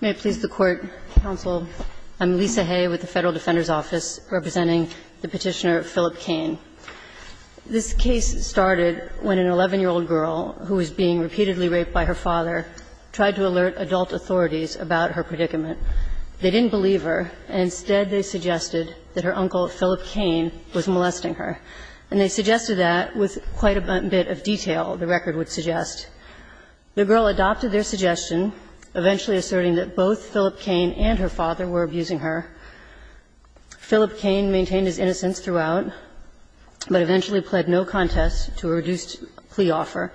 May it please the Court, Counsel, I'm Lisa Hay with the Federal Defender's Office, representing the Petitioner Philip Cain. This case started when an 11-year-old girl who was being repeatedly raped by her father tried to alert adult authorities about her predicament. They didn't believe her, and instead they suggested that her uncle, Philip Cain, was molesting her. And they suggested that with quite a bit of detail, the record would suggest. The girl adopted their suggestion, eventually asserting that both Philip Cain and her father were abusing her. Philip Cain maintained his innocence throughout, but eventually pled no contest to a reduced plea offer.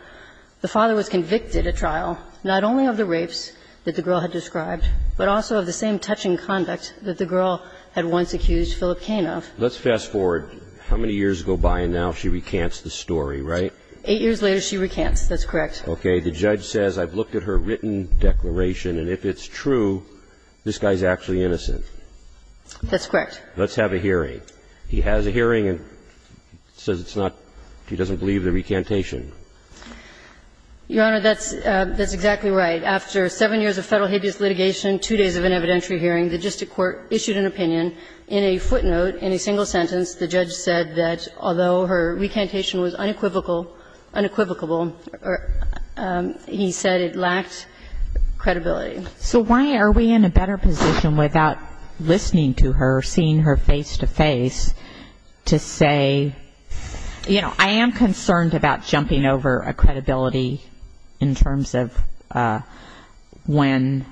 The father was convicted at trial, not only of the rapes that the girl had described, but also of the same touching conduct that the girl had once accused Philip Cain of. Let's fast forward how many years go by, and now she recants the story, right? Eight years later, she recants. Yes, that's correct. Okay. The judge says, I've looked at her written declaration, and if it's true, this guy's actually innocent. That's correct. Let's have a hearing. He has a hearing and says it's not he doesn't believe the recantation. Your Honor, that's exactly right. After seven years of Federal habeas litigation, two days of an evidentiary hearing, the district court issued an opinion. In a footnote, in a single sentence, the judge said that although her recantation was unequivocal, unequivocable, he said it lacked credibility. So why are we in a better position without listening to her, seeing her face to face, to say, you know, I am concerned about jumping over a credibility in terms of when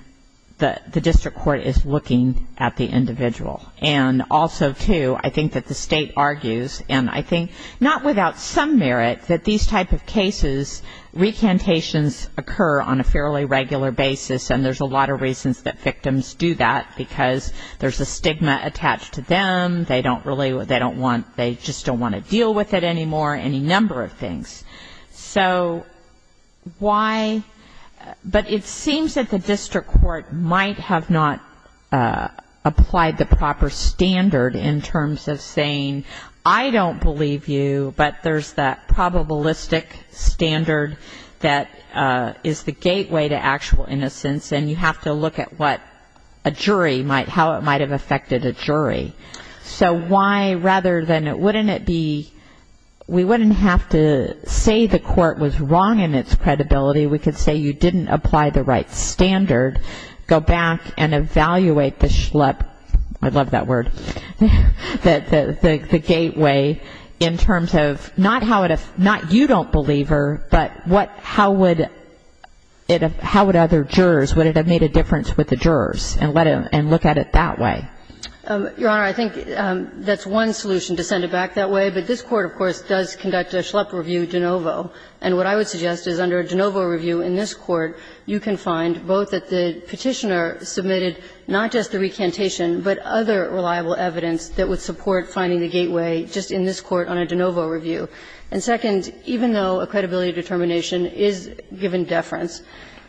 the district court is looking at the individual. And also, too, I think that the State argues, and I think not without some merit, that these type of cases, recantations occur on a fairly regular basis, and there's a lot of reasons that victims do that, because there's a stigma attached to them, they don't really, they don't want, they just don't want to deal with it anymore, any number of things. So why, but it seems that the district court might have not applied the proper standard in terms of saying, I don't believe you, but there's that probabilistic standard that is the gateway to actual innocence, and you have to look at what a jury might, how it might have affected a jury. So why, rather than, wouldn't it be, we wouldn't have to say the court was wrong in its credibility, we could say you didn't apply the right standard, go back and evaluate the, I love that word, the gateway in terms of, not how, not you don't believe her, but what, how would, how would other jurors, would it have made a difference with the jurors, and look at it that way? Your Honor, I think that's one solution to send it back that way, but this Court, of course, does conduct a Schlepp review de novo, and what I would suggest is under a de novo review in this Court, you can find both that the Petitioner submitted not just the recantation, but other reliable evidence that would support finding the gateway just in this Court on a de novo review, and second, even though a credibility determination is given deference,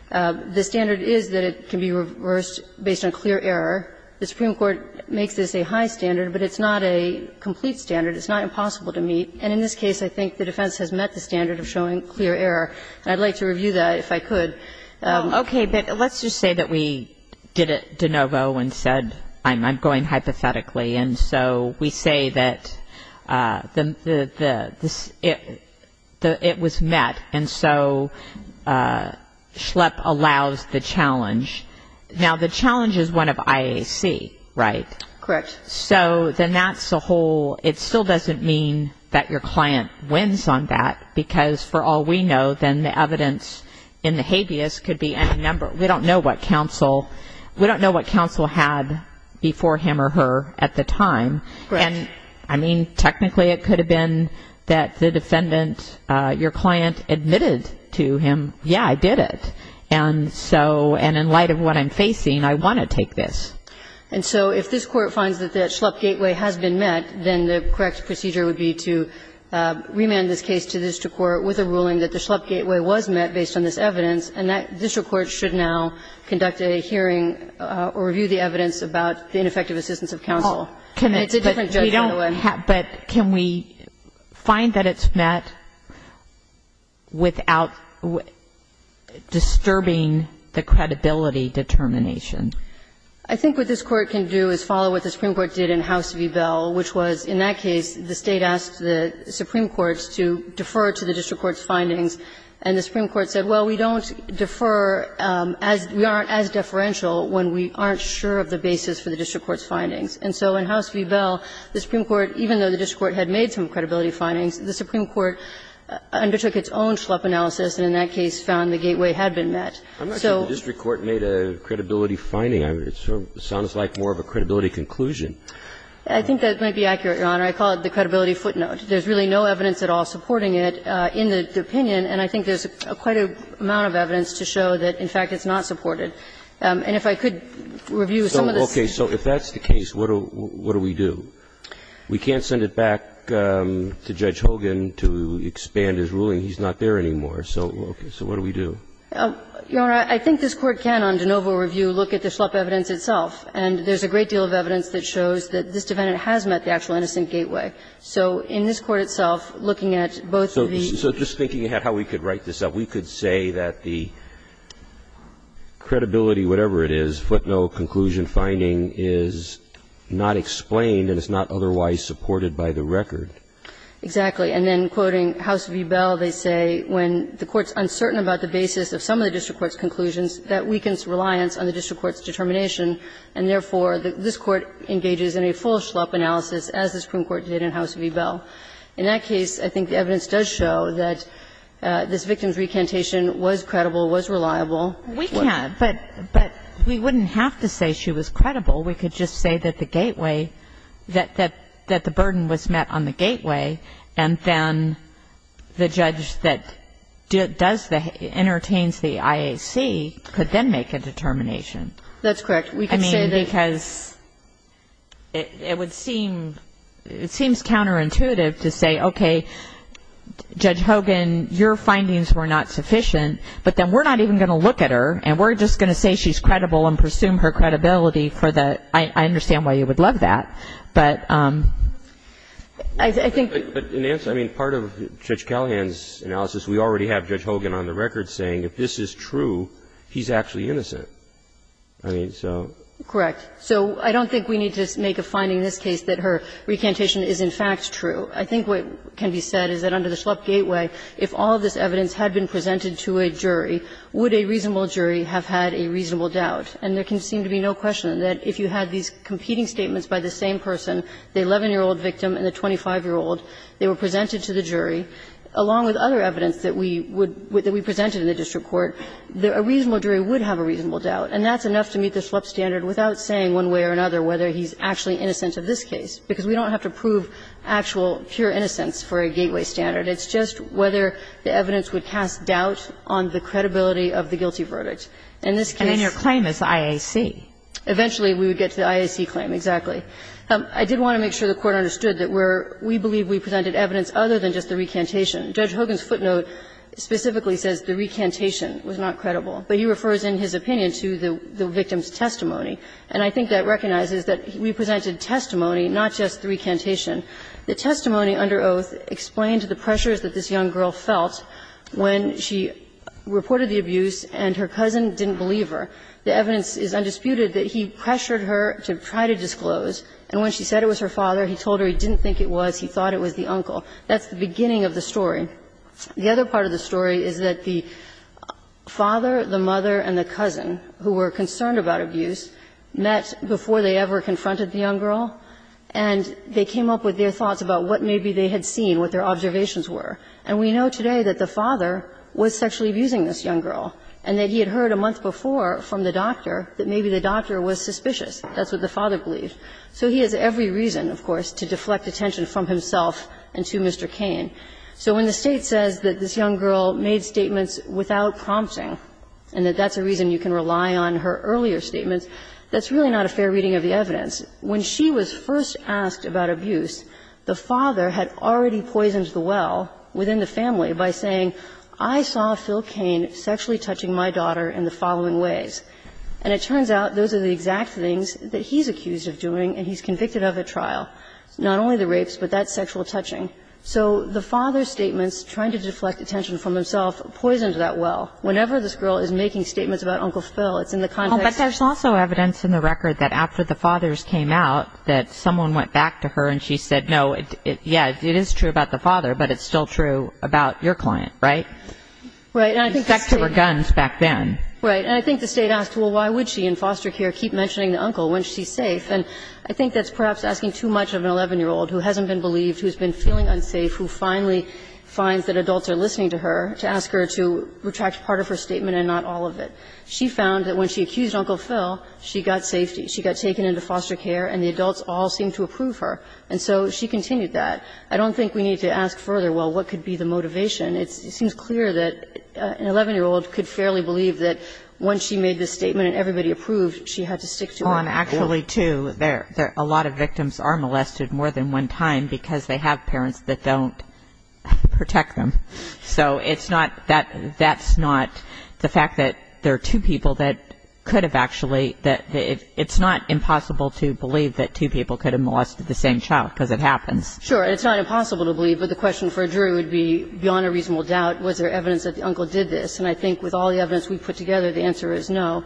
the standard is that it can be reversed based on clear error, the Supreme Court makes this a high standard, but it's not a complete standard, it's not impossible to meet, and in this case, I think the defense has met the standard of showing clear error, and I'd like to review that, if I could. Okay, but let's just say that we did it de novo and said, I'm going hypothetically, and so we say that the, the, the, the, it, the, it was met, and so Schlepp allows the challenge. Now, the challenge is one of IAC, right? Correct. So, then that's a whole, it still doesn't mean that your client wins on that, because for all we know, then the evidence in the habeas could be any number, we don't know what counsel, we don't know what counsel had before him or her at the time, and I mean, technically, it could have been that the defendant, your client admitted to him, yeah, I did it, and so, and in light of what I'm facing, I want to take this. And so, if this court finds that the Schlepp gateway has been met, then the correct procedure would be to remand this case to the district court with a ruling that the Schlepp gateway was met based on this evidence, and that district court should now conduct a hearing or review the evidence about the ineffective assistance of counsel. And it's a different judge, by the way. But can we find that it's met without disturbing the credibility determination? I think what this court can do is follow what the Supreme Court did in House v. Bell, which was, in that case, the State asked the Supreme Court to defer to the district court's findings, and the Supreme Court said, well, we don't defer, we aren't as deferential when we aren't sure of the basis for the district court's findings. And so in House v. Bell, the Supreme Court, even though the district court had made some credibility findings, the Supreme Court undertook its own Schlepp analysis and, in that case, found the gateway had been met. So the district court made a credibility finding, it sounds like more of a credibility I think that might be accurate, Your Honor. I call it the credibility footnote. There's really no evidence at all supporting it in the opinion, and I think there's quite an amount of evidence to show that, in fact, it's not supported. And if I could review some of the stuff. Okay. So if that's the case, what do we do? We can't send it back to Judge Hogan to expand his ruling. He's not there anymore. So what do we do? Your Honor, I think this Court can, on de novo review, look at the Schlepp evidence itself, and there's a great deal of evidence that shows that this defendant has met the actual innocent gateway. So in this Court itself, looking at both of these. So just thinking about how we could write this up, we could say that the credibility, whatever it is, footnote, conclusion, finding is not explained and it's not otherwise supported by the record. Exactly. And then, quoting House v. Bell, they say when the Court's uncertain about the basis of some of the district court's conclusions, that weakens reliance on the district court's determination, and therefore, this Court engages in a full Schlepp analysis as the Supreme Court did in House v. Bell. In that case, I think the evidence does show that this victim's recantation was credible, was reliable. We can't, but we wouldn't have to say she was credible. We could just say that the gateway, that the burden was met on the gateway, and then the judge that does the, entertains the IAC could then make a determination. That's correct. We could say that. I mean, because it would seem, it seems counterintuitive to say, okay, Judge Hogan, your findings were not sufficient, but then we're not even going to look at her and we're just going to say she's credible and presume her credibility for the, I understand why you would love that, but I think. But in answer, I mean, part of Judge Callahan's analysis, we already have Judge Hogan on the record saying if this is true, he's actually innocent. I mean, so. Correct. So I don't think we need to make a finding in this case that her recantation is, in fact, true. I think what can be said is that under the Schlupp gateway, if all of this evidence had been presented to a jury, would a reasonable jury have had a reasonable doubt? And there can seem to be no question that if you had these competing statements by the same person, the 11-year-old victim and the 25-year-old, they were presented to the jury, along with other evidence that we would, that we presented in the district court, that a reasonable jury would have a reasonable doubt. And that's enough to meet the Schlupp standard without saying one way or another whether he's actually innocent of this case, because we don't have to prove actual pure innocence for a gateway standard. It's just whether the evidence would cast doubt on the credibility of the guilty verdict. In this case the claim is IAC. Eventually, we would get to the IAC claim, exactly. I did want to make sure the Court understood that we're, we believe we presented evidence other than just the recantation. Judge Hogan's footnote specifically says the recantation was not credible, but he refers in his opinion to the victim's testimony. And I think that recognizes that we presented testimony, not just the recantation. The testimony under oath explained the pressures that this young girl felt when she reported the abuse and her cousin didn't believe her. The evidence is undisputed that he pressured her to try to disclose. And when she said it was her father, he told her he didn't think it was, he thought it was the uncle. That's the beginning of the story. The other part of the story is that the father, the mother, and the cousin, who were concerned about abuse, met before they ever confronted the young girl, and they came up with their thoughts about what maybe they had seen, what their observations were. And we know today that the father was sexually abusing this young girl, and that he had heard a month before from the doctor that maybe the doctor was suspicious. That's what the father believed. So he has every reason, of course, to deflect attention from himself and to Mr. Cain. So when the State says that this young girl made statements without prompting and that that's a reason you can rely on her earlier statements, that's really not a fair reading of the evidence. When she was first asked about abuse, the father had already poisoned the well within the family by saying, I saw Phil Cain sexually touching my daughter in the following ways. And it turns out those are the exact things that he's accused of doing and he's convicted of at trial, not only the rapes, but that sexual touching. So the father's statements, trying to deflect attention from himself, poisoned that well. Whenever this girl is making statements about Uncle Phil, it's in the context of the case. And so the State's claim is that she was sexually assaulted, and that's a reason And I think when the State came out, that someone went back to her and she said, no, yeah, it is true about the father, but it's still true about your client, right? She was back to her guns back then. Right. And I think the State asked, well, why would she in foster care keep mentioning the uncle when she's safe? And I think that's perhaps asking too much of an 11-year-old who hasn't been believed, who has been feeling unsafe, who finally finds that adults are listening to her to ask her to retract part of her statement and not all of it. She found that when she accused Uncle Phil, she got safety. She got taken into foster care, and the adults all seemed to approve her. And so she continued that. I don't think we need to ask further, well, what could be the motivation? It seems clear that an 11-year-old could fairly believe that once she made this statement and everybody approved, she had to stick to it. Well, and actually, too, there are a lot of victims are molested more than one time because they have parents that don't protect them. So it's not that that's not the fact that there are two people that could have actually that it's not impossible to believe that two people could have molested the same child, because it happens. Sure. It's not impossible to believe, but the question for a jury would be beyond a reasonable doubt, was there evidence that the uncle did this? And I think with all the evidence we put together, the answer is no.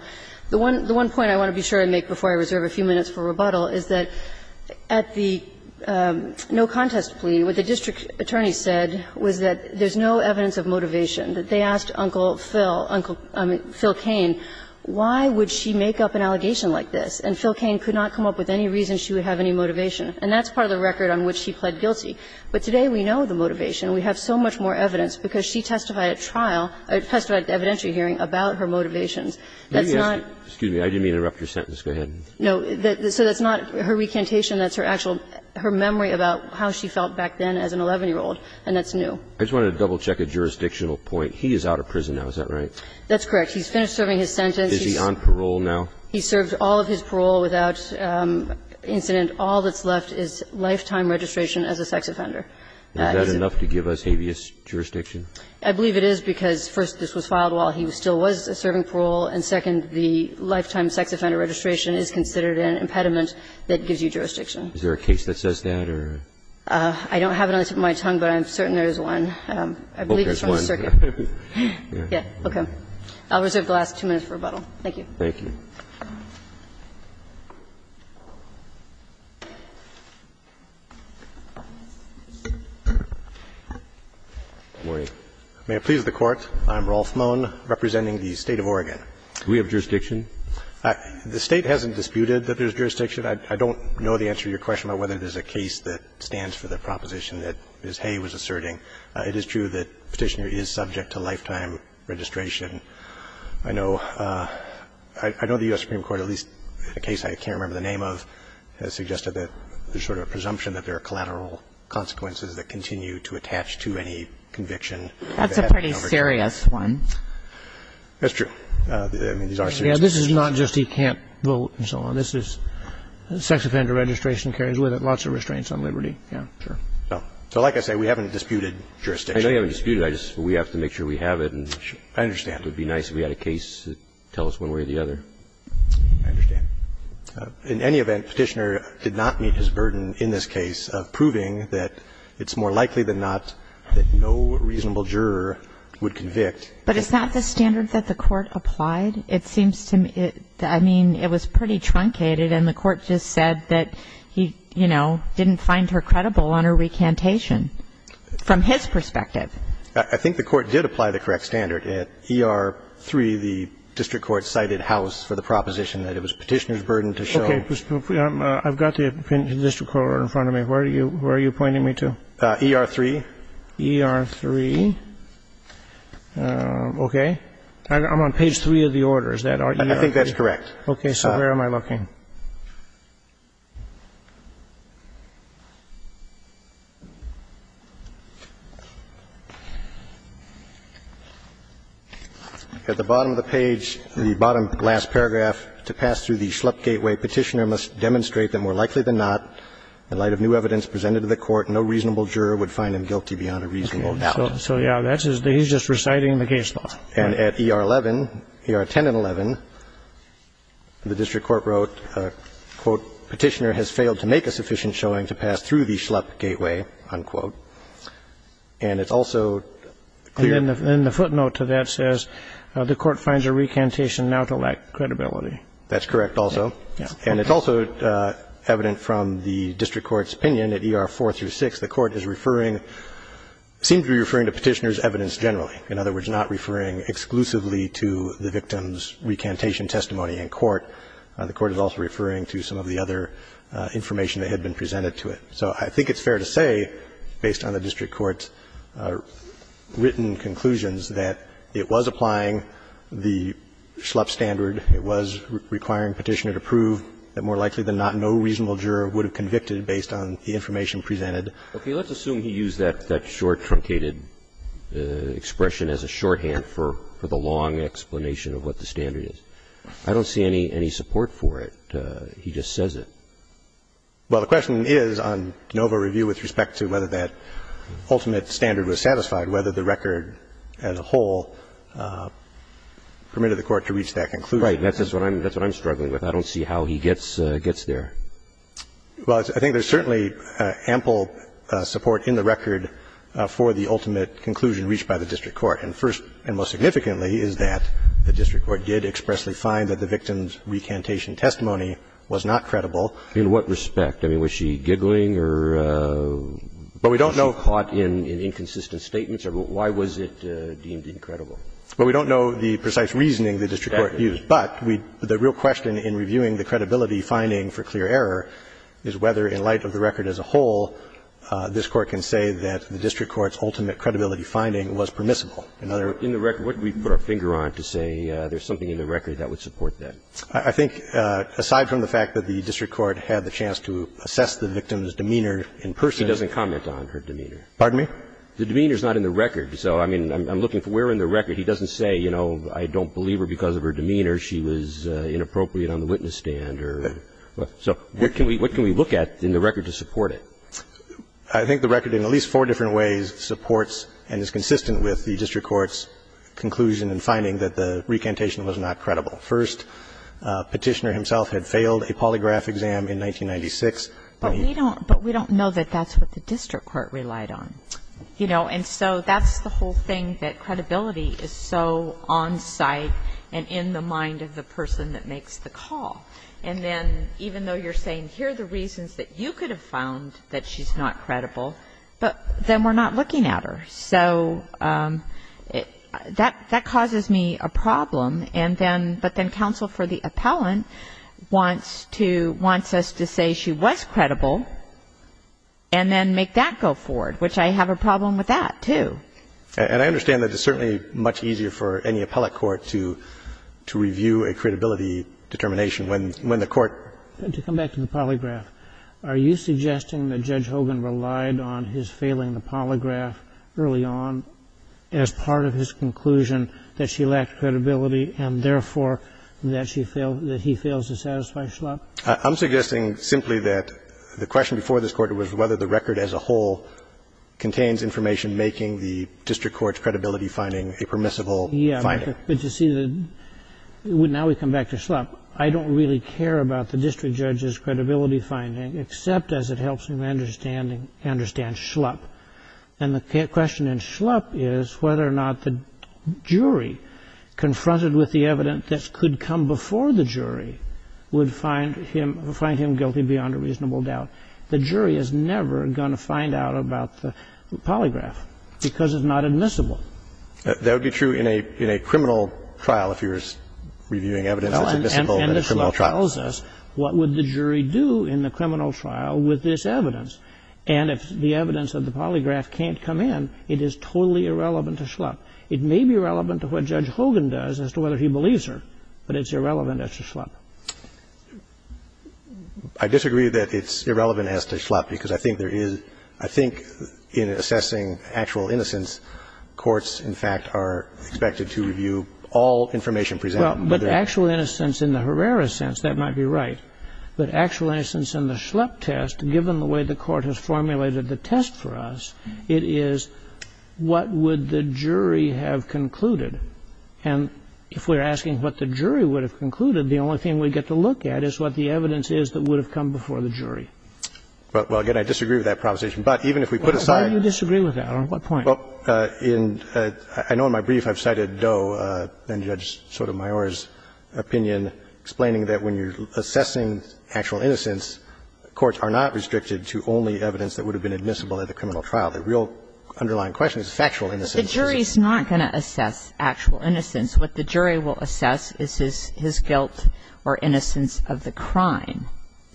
The one point I want to be sure to make before I reserve a few minutes for rebuttal is that at the no contest plea, what the district attorney said was that there's no evidence of motivation, that they asked Uncle Phil, Uncle Phil Cain, why would she make up an allegation like this, and Phil Cain could not come up with any reason she would have any motivation. And that's part of the record on which he pled guilty. But today we know the motivation. We have so much more evidence because she testified at trial, testified at the evidentiary hearing about her motivations. That's not Excuse me. I didn't mean to interrupt your sentence. Go ahead. No. So that's not her recantation. That's her actual, her memory about how she felt back then as an 11-year-old, and that's new. I just wanted to double check a jurisdictional point. He is out of prison now. Is that right? That's correct. He's finished serving his sentence. Is he on parole now? He served all of his parole without incident. All that's left is lifetime registration as a sex offender. Is that enough to give us habeas jurisdiction? I believe it is because, first, this was filed while he still was serving parole, and, second, the lifetime sex offender registration is considered an impediment that gives you jurisdiction. Is there a case that says that or? I don't have it on the tip of my tongue, but I'm certain there is one. I believe it's from the circuit. Yes. Okay. I'll reserve the last two minutes for rebuttal. Thank you. Thank you. Good morning. May it please the Court. I'm Rolf Moen, representing the State of Oregon. Do we have jurisdiction? The State hasn't disputed that there's jurisdiction. I don't know the answer to your question about whether there's a case that stands for the proposition that Ms. Hay was asserting. It is true that Petitioner is subject to lifetime registration. I know the U.S. Supreme Court, at least in a case I can't remember the name of, has suggested that there's sort of a presumption that there are collateral consequences that continue to attach to any conviction. That's a pretty serious one. That's true. I mean, these are serious. This is not just he can't vote and so on. This is sex offender registration carries with it lots of restraints on liberty. Yeah. Sure. So like I say, we haven't disputed jurisdiction. I know you haven't disputed. I just we have to make sure we have it. I understand. It would be nice if we had a case that tells us one way or the other. I understand. In any event, Petitioner did not meet his burden in this case of proving that it's more likely than not that no reasonable juror would convict. But it's not the standard that the Court applied. It seems to me, I mean, it was pretty truncated, and the Court just said that he, you know, didn't find her credible on her recantation from his perspective. I think the Court did apply the correct standard. At ER-3, the district court cited House for the proposition that it was Petitioner's burden to show. Okay. I've got the district court order in front of me. Where are you pointing me to? ER-3. ER-3. Okay. I'm on page 3 of the order. Is that ER-3? I think that's correct. Okay. So where am I looking? At the bottom of the page, the bottom last paragraph, to pass through the Schlepp gateway, Petitioner must demonstrate that more likely than not, in light of new evidence presented to the Court, no reasonable juror would find him guilty beyond a reasonable doubt. So, yeah, that's his – he's just reciting the case law. And at ER-11, ER-10 and 11, the district court wrote, quote, Petitioner has failed to make a sufficient showing to pass through the Schlepp gateway, unquote. And it's also clear – And the footnote to that says, the Court finds her recantation now to lack credibility. That's correct also. And it's also evident from the district court's opinion at ER-4 through 6, the Court is referring – seems to be referring to Petitioner's evidence generally. In other words, not referring exclusively to the victim's recantation testimony in court. The Court is also referring to some of the other information that had been presented to it. So I think it's fair to say, based on the district court's written conclusions, that it was applying the Schlepp standard. It was requiring Petitioner to prove that more likely than not, no reasonable juror would have convicted based on the information presented. Okay. Let's assume he used that short, truncated expression as a shorthand for the long explanation of what the standard is. I don't see any support for it. He just says it. Well, the question is on Nova Review with respect to whether that ultimate standard was satisfied, whether the record as a whole permitted the Court to reach that conclusion. Right. That's what I'm struggling with. I don't see how he gets there. Well, I think there's certainly ample support in the record for the ultimate conclusion reached by the district court. And first and most significantly is that the district court did expressly find that the victim's recantation testimony was not credible. In what respect? I mean, was she giggling or was she caught in inconsistent statements? Why was it deemed incredible? Well, we don't know the precise reasoning the district court used. But the real question in reviewing the credibility finding for clear error is whether in light of the record as a whole, this Court can say that the district court's ultimate credibility finding was permissible. In other words, in the record, what did we put our finger on to say there's something in the record that would support that? I think aside from the fact that the district court had the chance to assess the victim's demeanor in person. He doesn't comment on her demeanor. Pardon me? The demeanor is not in the record. So, I mean, I'm looking for where in the record he doesn't say, you know, I don't believe her because of her demeanor, she was inappropriate on the witness stand or. So what can we look at in the record to support it? I think the record, in at least four different ways, supports and is consistent with the district court's conclusion and finding that the recantation was not credible. First, Petitioner himself had failed a polygraph exam in 1996. But we don't know that that's what the district court relied on. You know, and so that's the whole thing, that credibility is so on site and in the mind of the person that makes the call. And then even though you're saying here are the reasons that you could have found that she's not credible, but then we're not looking at her. So that causes me a problem. And then, but then counsel for the appellant wants to, wants us to say she was not credible, but then we have a problem with that, too. And I understand that it's certainly much easier for any appellate court to, to review a credibility determination when, when the court. To come back to the polygraph, are you suggesting that Judge Hogan relied on his failing the polygraph early on as part of his conclusion that she lacked credibility and, therefore, that she failed, that he fails to satisfy Schlupp? I'm suggesting simply that the question before this Court was whether the record as a whole contains information making the district court's credibility finding a permissible finding. Yeah, but you see, now we come back to Schlupp. I don't really care about the district judge's credibility finding, except as it helps him understanding, understand Schlupp. And the question in Schlupp is whether or not the jury confronted with the evidence that could come before the jury would find him, find him guilty beyond a reasonable doubt. The jury is never going to find out about the polygraph because it's not admissible. That would be true in a, in a criminal trial, if you're reviewing evidence that's admissible in a criminal trial. And Schlupp tells us what would the jury do in the criminal trial with this evidence. And if the evidence of the polygraph can't come in, it is totally irrelevant to Schlupp. It may be relevant to what Judge Hogan does as to whether he believes her, but it's irrelevant as to Schlupp. I disagree that it's irrelevant as to Schlupp because I think there is, I think in assessing actual innocence, courts, in fact, are expected to review all information presented. Well, but actual innocence in the Herrera sense, that might be right. But actual innocence in the Schlupp test, given the way the Court has formulated the test for us, it is, what would the jury have concluded? And if we're asking what the jury would have concluded, the only thing we get to look at is what the evidence is that would have come before the jury. Well, again, I disagree with that proposition. But even if we put aside the question of what the jury would have concluded, what would the jury have concluded? Well, I know in my brief I've cited Doe and Judge Sotomayor's opinion, explaining that when you're assessing actual innocence, courts are not restricted to only evidence that would have been admissible at the criminal trial. The real underlying question is factual innocence. But the jury is not going to assess actual innocence. What the jury will assess is his guilt or innocence of the crime.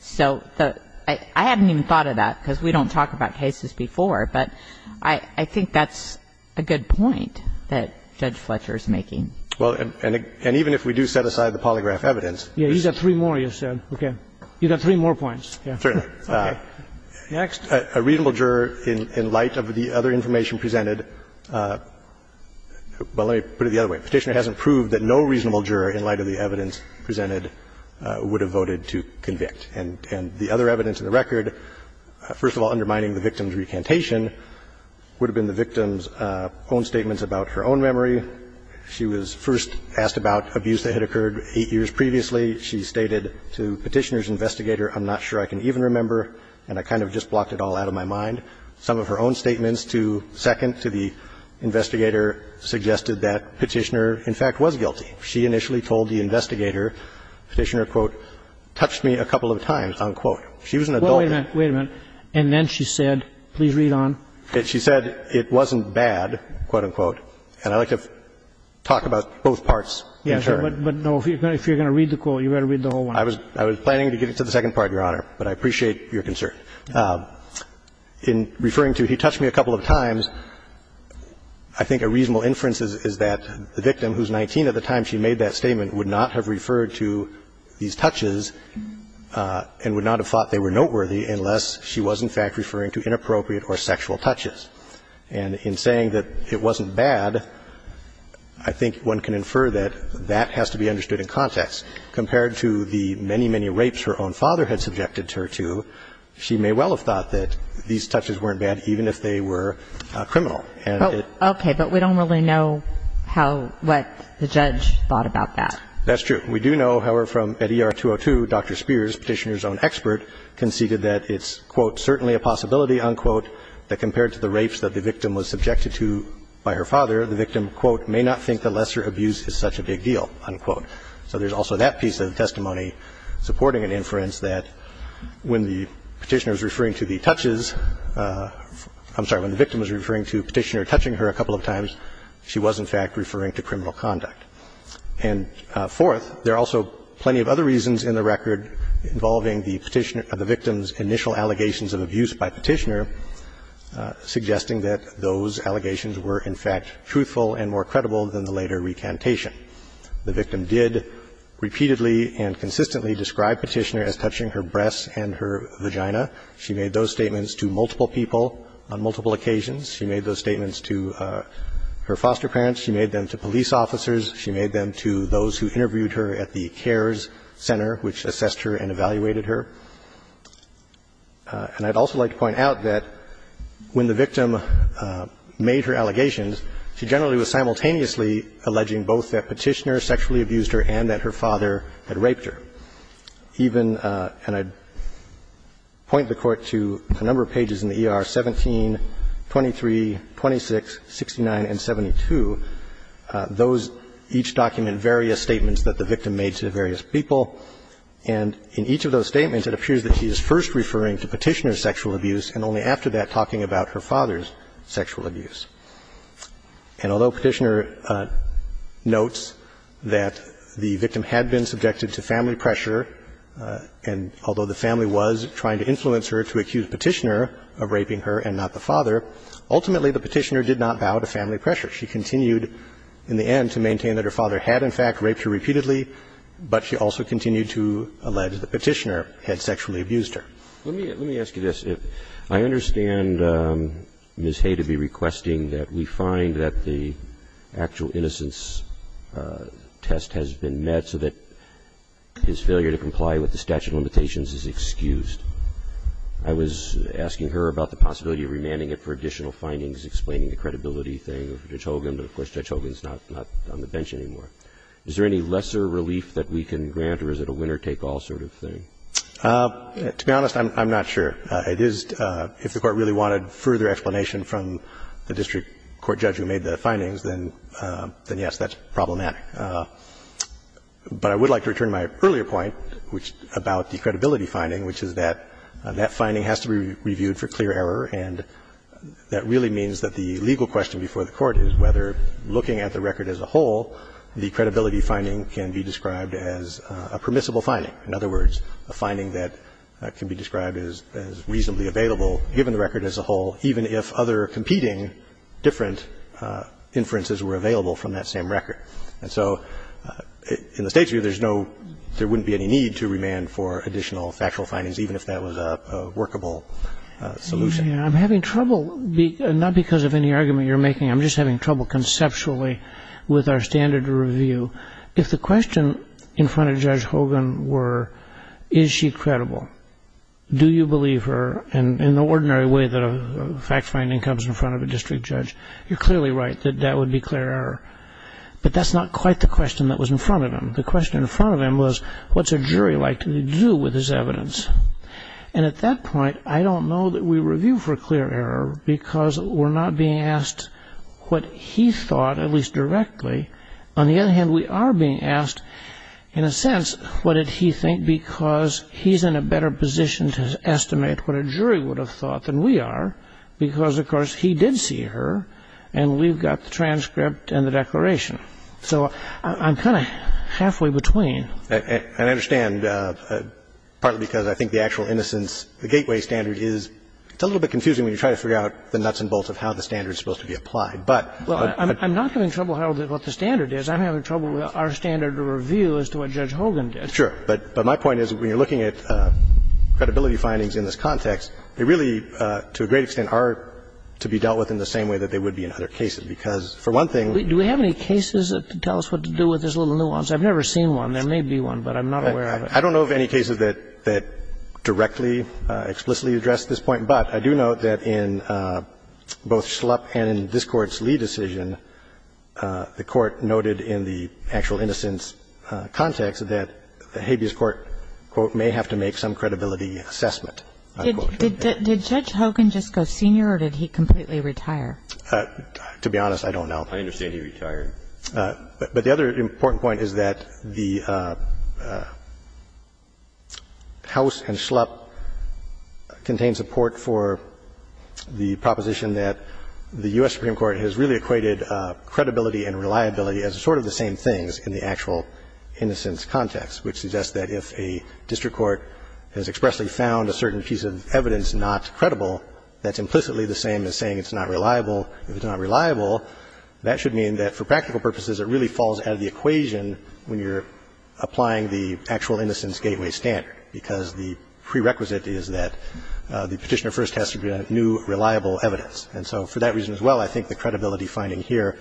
So the – I haven't even thought of that because we don't talk about cases before. But I think that's a good point that Judge Fletcher is making. Well, and even if we do set aside the polygraph evidence. Yes, you've got three more, you said. Okay. You've got three more points. Certainly. Okay. Next. A reasonable juror, in light of the other information presented – well, let me put it the other way. Petitioner hasn't proved that no reasonable juror, in light of the evidence presented, would have voted to convict. And the other evidence in the record, first of all, undermining the victim's recantation, would have been the victim's own statements about her own memory. She was first asked about abuse that had occurred eight years previously. She stated to Petitioner's investigator, I'm not sure I can even remember, and I kind of just blocked it all out of my mind, some of her own statements to second to the investigator suggested that Petitioner, in fact, was guilty. She initially told the investigator, Petitioner, quote, touched me a couple of times, unquote. She was an adult. Well, wait a minute, wait a minute. And then she said, please read on. She said it wasn't bad, quote, unquote, and I'd like to talk about both parts in turn. Yes, but no, if you're going to read the quote, you'd better read the whole one. I was planning to get into the second part, Your Honor, but I appreciate your concern. In referring to, he touched me a couple of times, I think a reasonable inference is that the victim, who's 19 at the time she made that statement, would not have referred to these touches and would not have thought they were noteworthy unless she was, in fact, referring to inappropriate or sexual touches. And in saying that it wasn't bad, I think one can infer that that has to be understood in context. Compared to the many, many rapes her own father had subjected her to, she may have thought that these touches weren't bad, even if they were criminal. And it was not. Okay, but we don't really know how, what the judge thought about that. That's true. We do know, however, from at ER 202, Dr. Spears, Petitioner's own expert, conceded that it's, quote, certainly a possibility, unquote, that compared to the rapes that the victim was subjected to by her father, the victim, quote, may not think that lesser abuse is such a big deal, unquote. So there's also that piece of testimony supporting an inference that when the Petitioner was referring to the touches, I'm sorry, when the victim was referring to Petitioner touching her a couple of times, she was, in fact, referring to criminal conduct. And fourth, there are also plenty of other reasons in the record involving the Petitioner or the victim's initial allegations of abuse by Petitioner, suggesting that those allegations were, in fact, truthful and more credible than the later recantation. The victim did repeatedly and consistently describe Petitioner as touching her breasts and her vagina. She made those statements to multiple people on multiple occasions. She made those statements to her foster parents. She made them to police officers. She made them to those who interviewed her at the CARES Center, which assessed her and evaluated her. And I'd also like to point out that when the victim made her allegations, she generally was simultaneously alleging both that Petitioner sexually abused her and that her father had raped her. Even and I'd point the Court to a number of pages in the ER, 17, 23, 26, 69, and 72. Those each document various statements that the victim made to various people. And in each of those statements, it appears that she is first referring to Petitioner's sexual abuse and only after that talking about her father's sexual abuse. And although Petitioner notes that the victim had been subjected to family pressure and although the family was trying to influence her to accuse Petitioner of raping her and not the father, ultimately the Petitioner did not bow to family pressure. She continued in the end to maintain that her father had, in fact, raped her repeatedly, but she also continued to allege that Petitioner had sexually abused her. Let me ask you this. I understand Ms. Hay to be requesting that we find that the actual innocence test has been met so that his failure to comply with the statute of limitations is excused. I was asking her about the possibility of remanding it for additional findings explaining the credibility thing of Judge Hogan, but of course Judge Hogan is not on the bench anymore. Is there any lesser relief that we can grant or is it a winner-take-all sort of thing? To be honest, I'm not sure. It is, if the Court really wanted further explanation from the district court judge who made the findings, then yes, that's problematic. But I would like to return to my earlier point about the credibility finding, which is that that finding has to be reviewed for clear error and that really means that the legal question before the Court is whether looking at the record as a whole, the credibility finding can be described as a permissible finding. In other words, a finding that can be described as reasonably available given the record as a whole, even if other competing different inferences were available from that same record. And so in the State's view, there's no – there wouldn't be any need to remand for additional factual findings, even if that was a workable solution. I'm having trouble – not because of any argument you're making. I'm just having trouble conceptually with our standard of review. If the question in front of Judge Hogan were, is she credible, do you believe her? And in the ordinary way that a fact finding comes in front of a district judge, you're clearly right that that would be clear error. But that's not quite the question that was in front of him. The question in front of him was, what's a jury like to do with this evidence? And at that point, I don't know that we review for clear error because we're not being asked what he thought, at least directly. On the other hand, we are being asked, in a sense, what did he think because he's in a better position to estimate what a jury would have thought than we are because, of course, he did see her, and we've got the transcript and the declaration. So I'm kind of halfway between. And I understand, partly because I think the actual innocence – the Gateway standard is – it's a little bit confusing when you try to figure out the nuts and bolts of how the standard is supposed to be applied, but – Well, I'm not having trouble with what the standard is. I'm having trouble with our standard of review as to what Judge Hogan did. Sure. But my point is, when you're looking at credibility findings in this context, they really, to a great extent, are to be dealt with in the same way that they would be in other cases because, for one thing – Do we have any cases that tell us what to do with this little nuance? I've never seen one. There may be one, but I'm not aware of it. I don't know of any cases that directly, explicitly address this point. But I do note that in both Schlupp and in this Court's Lee decision, the Court noted in the actual innocence context that the habeas court, quote, may have to make some credibility assessment. Did Judge Hogan just go senior or did he completely retire? To be honest, I don't know. I understand he retired. But the other important point is that the House and Schlupp contained support for the proposition that the U.S. Supreme Court has really equated credibility and reliability as sort of the same things in the actual innocence context, which suggests that if a district court has expressly found a certain piece of evidence not credible, that's implicitly the same as saying it's not reliable. If it's not reliable, that should mean that, for practical purposes, it really falls out of the equation when you're applying the actual innocence gateway standard because the prerequisite is that the Petitioner first has to present new, reliable evidence. And so for that reason as well, I think the credibility finding here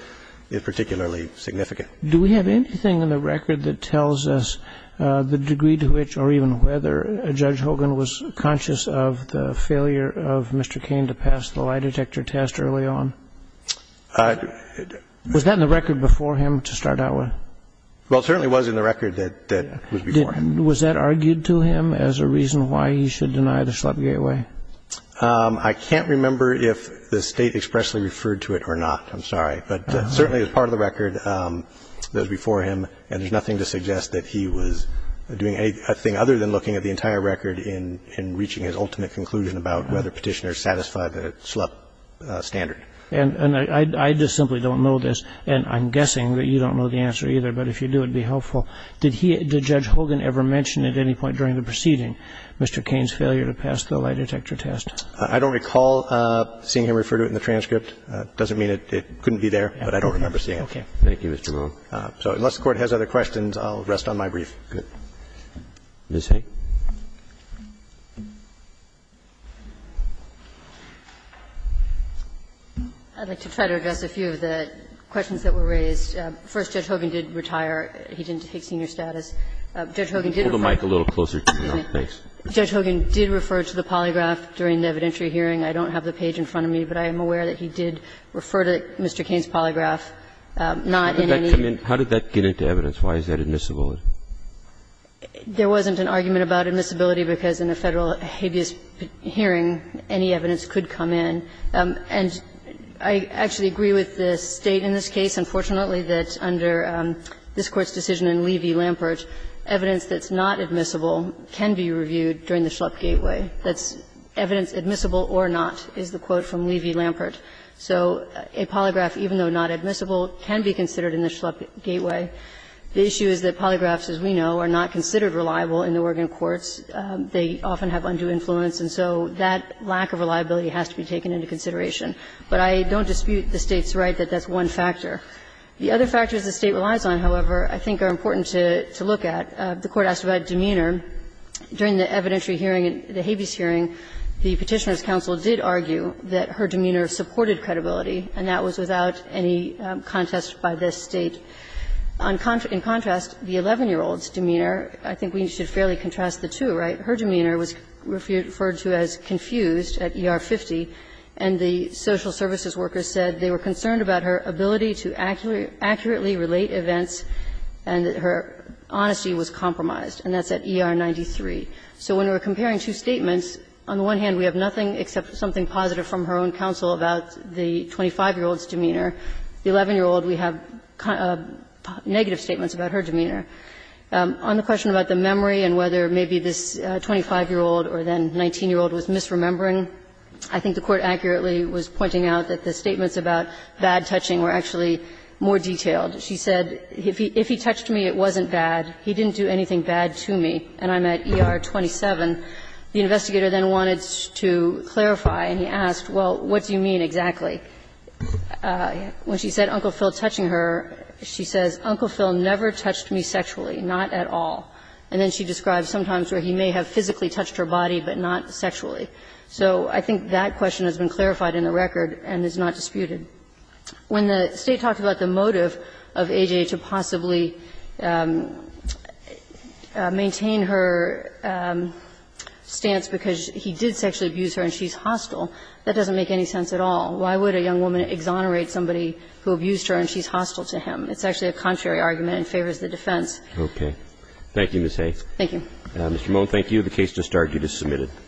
is particularly significant. Do we have anything in the record that tells us the degree to which or even whether Judge Hogan was conscious of the failure of Mr. Cain to pass the lie detector test early on? Was that in the record before him to start out with? Well, it certainly was in the record that was before him. Was that argued to him as a reason why he should deny the Schlupp gateway? I can't remember if the State expressly referred to it or not. I'm sorry. But certainly it's part of the record that was before him. And there's nothing to suggest that he was doing anything other than looking at the entire record in reaching his ultimate conclusion about whether Petitioner satisfied the Schlupp standard. And I just simply don't know this. And I'm guessing that you don't know the answer either. But if you do, it would be helpful. Did Judge Hogan ever mention at any point during the proceeding Mr. Cain's failure to pass the lie detector test? I don't recall seeing him refer to it in the transcript. It doesn't mean it couldn't be there, but I don't remember seeing it. Okay. Thank you, Mr. Rohn. So unless the Court has other questions, I'll rest on my brief. Good. Ms. Hay. I'd like to try to address a few of the questions that were raised. First, Judge Hogan did retire. He didn't take senior status. Judge Hogan did refer to it. Hold the mic a little closer. No, thanks. Judge Hogan did refer to the polygraph during the evidentiary hearing. I don't have the page in front of me, but I am aware that he did refer to Mr. Cain's polygraph, not in any. How did that come in? How did that get into evidence? Why is that admissible? There wasn't an argument about admissibility because in a Federal habeas hearing, any evidence could come in. And I actually agree with the State in this case, unfortunately, that under this Court's decision in Levy-Lampert, evidence that's not admissible can be reviewed during the Schlupp gateway. That's evidence admissible or not, is the quote from Levy-Lampert. So a polygraph, even though not admissible, can be considered in the Schlupp gateway. The issue is that polygraphs, as we know, are not considered reliable in the Oregon courts. They often have undue influence, and so that lack of reliability has to be taken into consideration. But I don't dispute the State's right that that's one factor. The other factors the State relies on, however, I think are important to look at. The Court asked about demeanor. During the evidentiary hearing, the habeas hearing, the Petitioner's counsel did argue that her demeanor supported credibility, and that was without any contest by this State. In contrast, the 11-year-old's demeanor, I think we should fairly contrast the two, right? Her demeanor was referred to as confused at ER 50, and the social services workers said they were concerned about her ability to accurately relate events, and her honesty was compromised, and that's at ER 93. So when we're comparing two statements, on the one hand, we have nothing except something positive from her own counsel about the 25-year-old's demeanor. The 11-year-old, we have negative statements about her demeanor. On the question about the memory and whether maybe this 25-year-old or then 19-year-old was misremembering, I think the Court accurately was pointing out that the statements about bad touching were actually more detailed. She said, if he touched me, it wasn't bad. He didn't do anything bad to me, and I'm at ER 27. The investigator then wanted to clarify, and he asked, well, what do you mean exactly? When she said, Uncle Phil touching her, she says, Uncle Phil never touched me sexually, not at all. And then she describes sometimes where he may have physically touched her body, but not sexually. So I think that question has been clarified in the record and is not disputed. When the State talked about the motive of AJ to possibly maintain her stance because he did sexually abuse her and she's hostile, that doesn't make any sense at all. Why would a young woman exonerate somebody who abused her and she's hostile to him? It's actually a contrary argument and favors the defense. Okay. Thank you, Ms. Hayes. Thank you. Mr. Moen, thank you. The case just argued is submitted.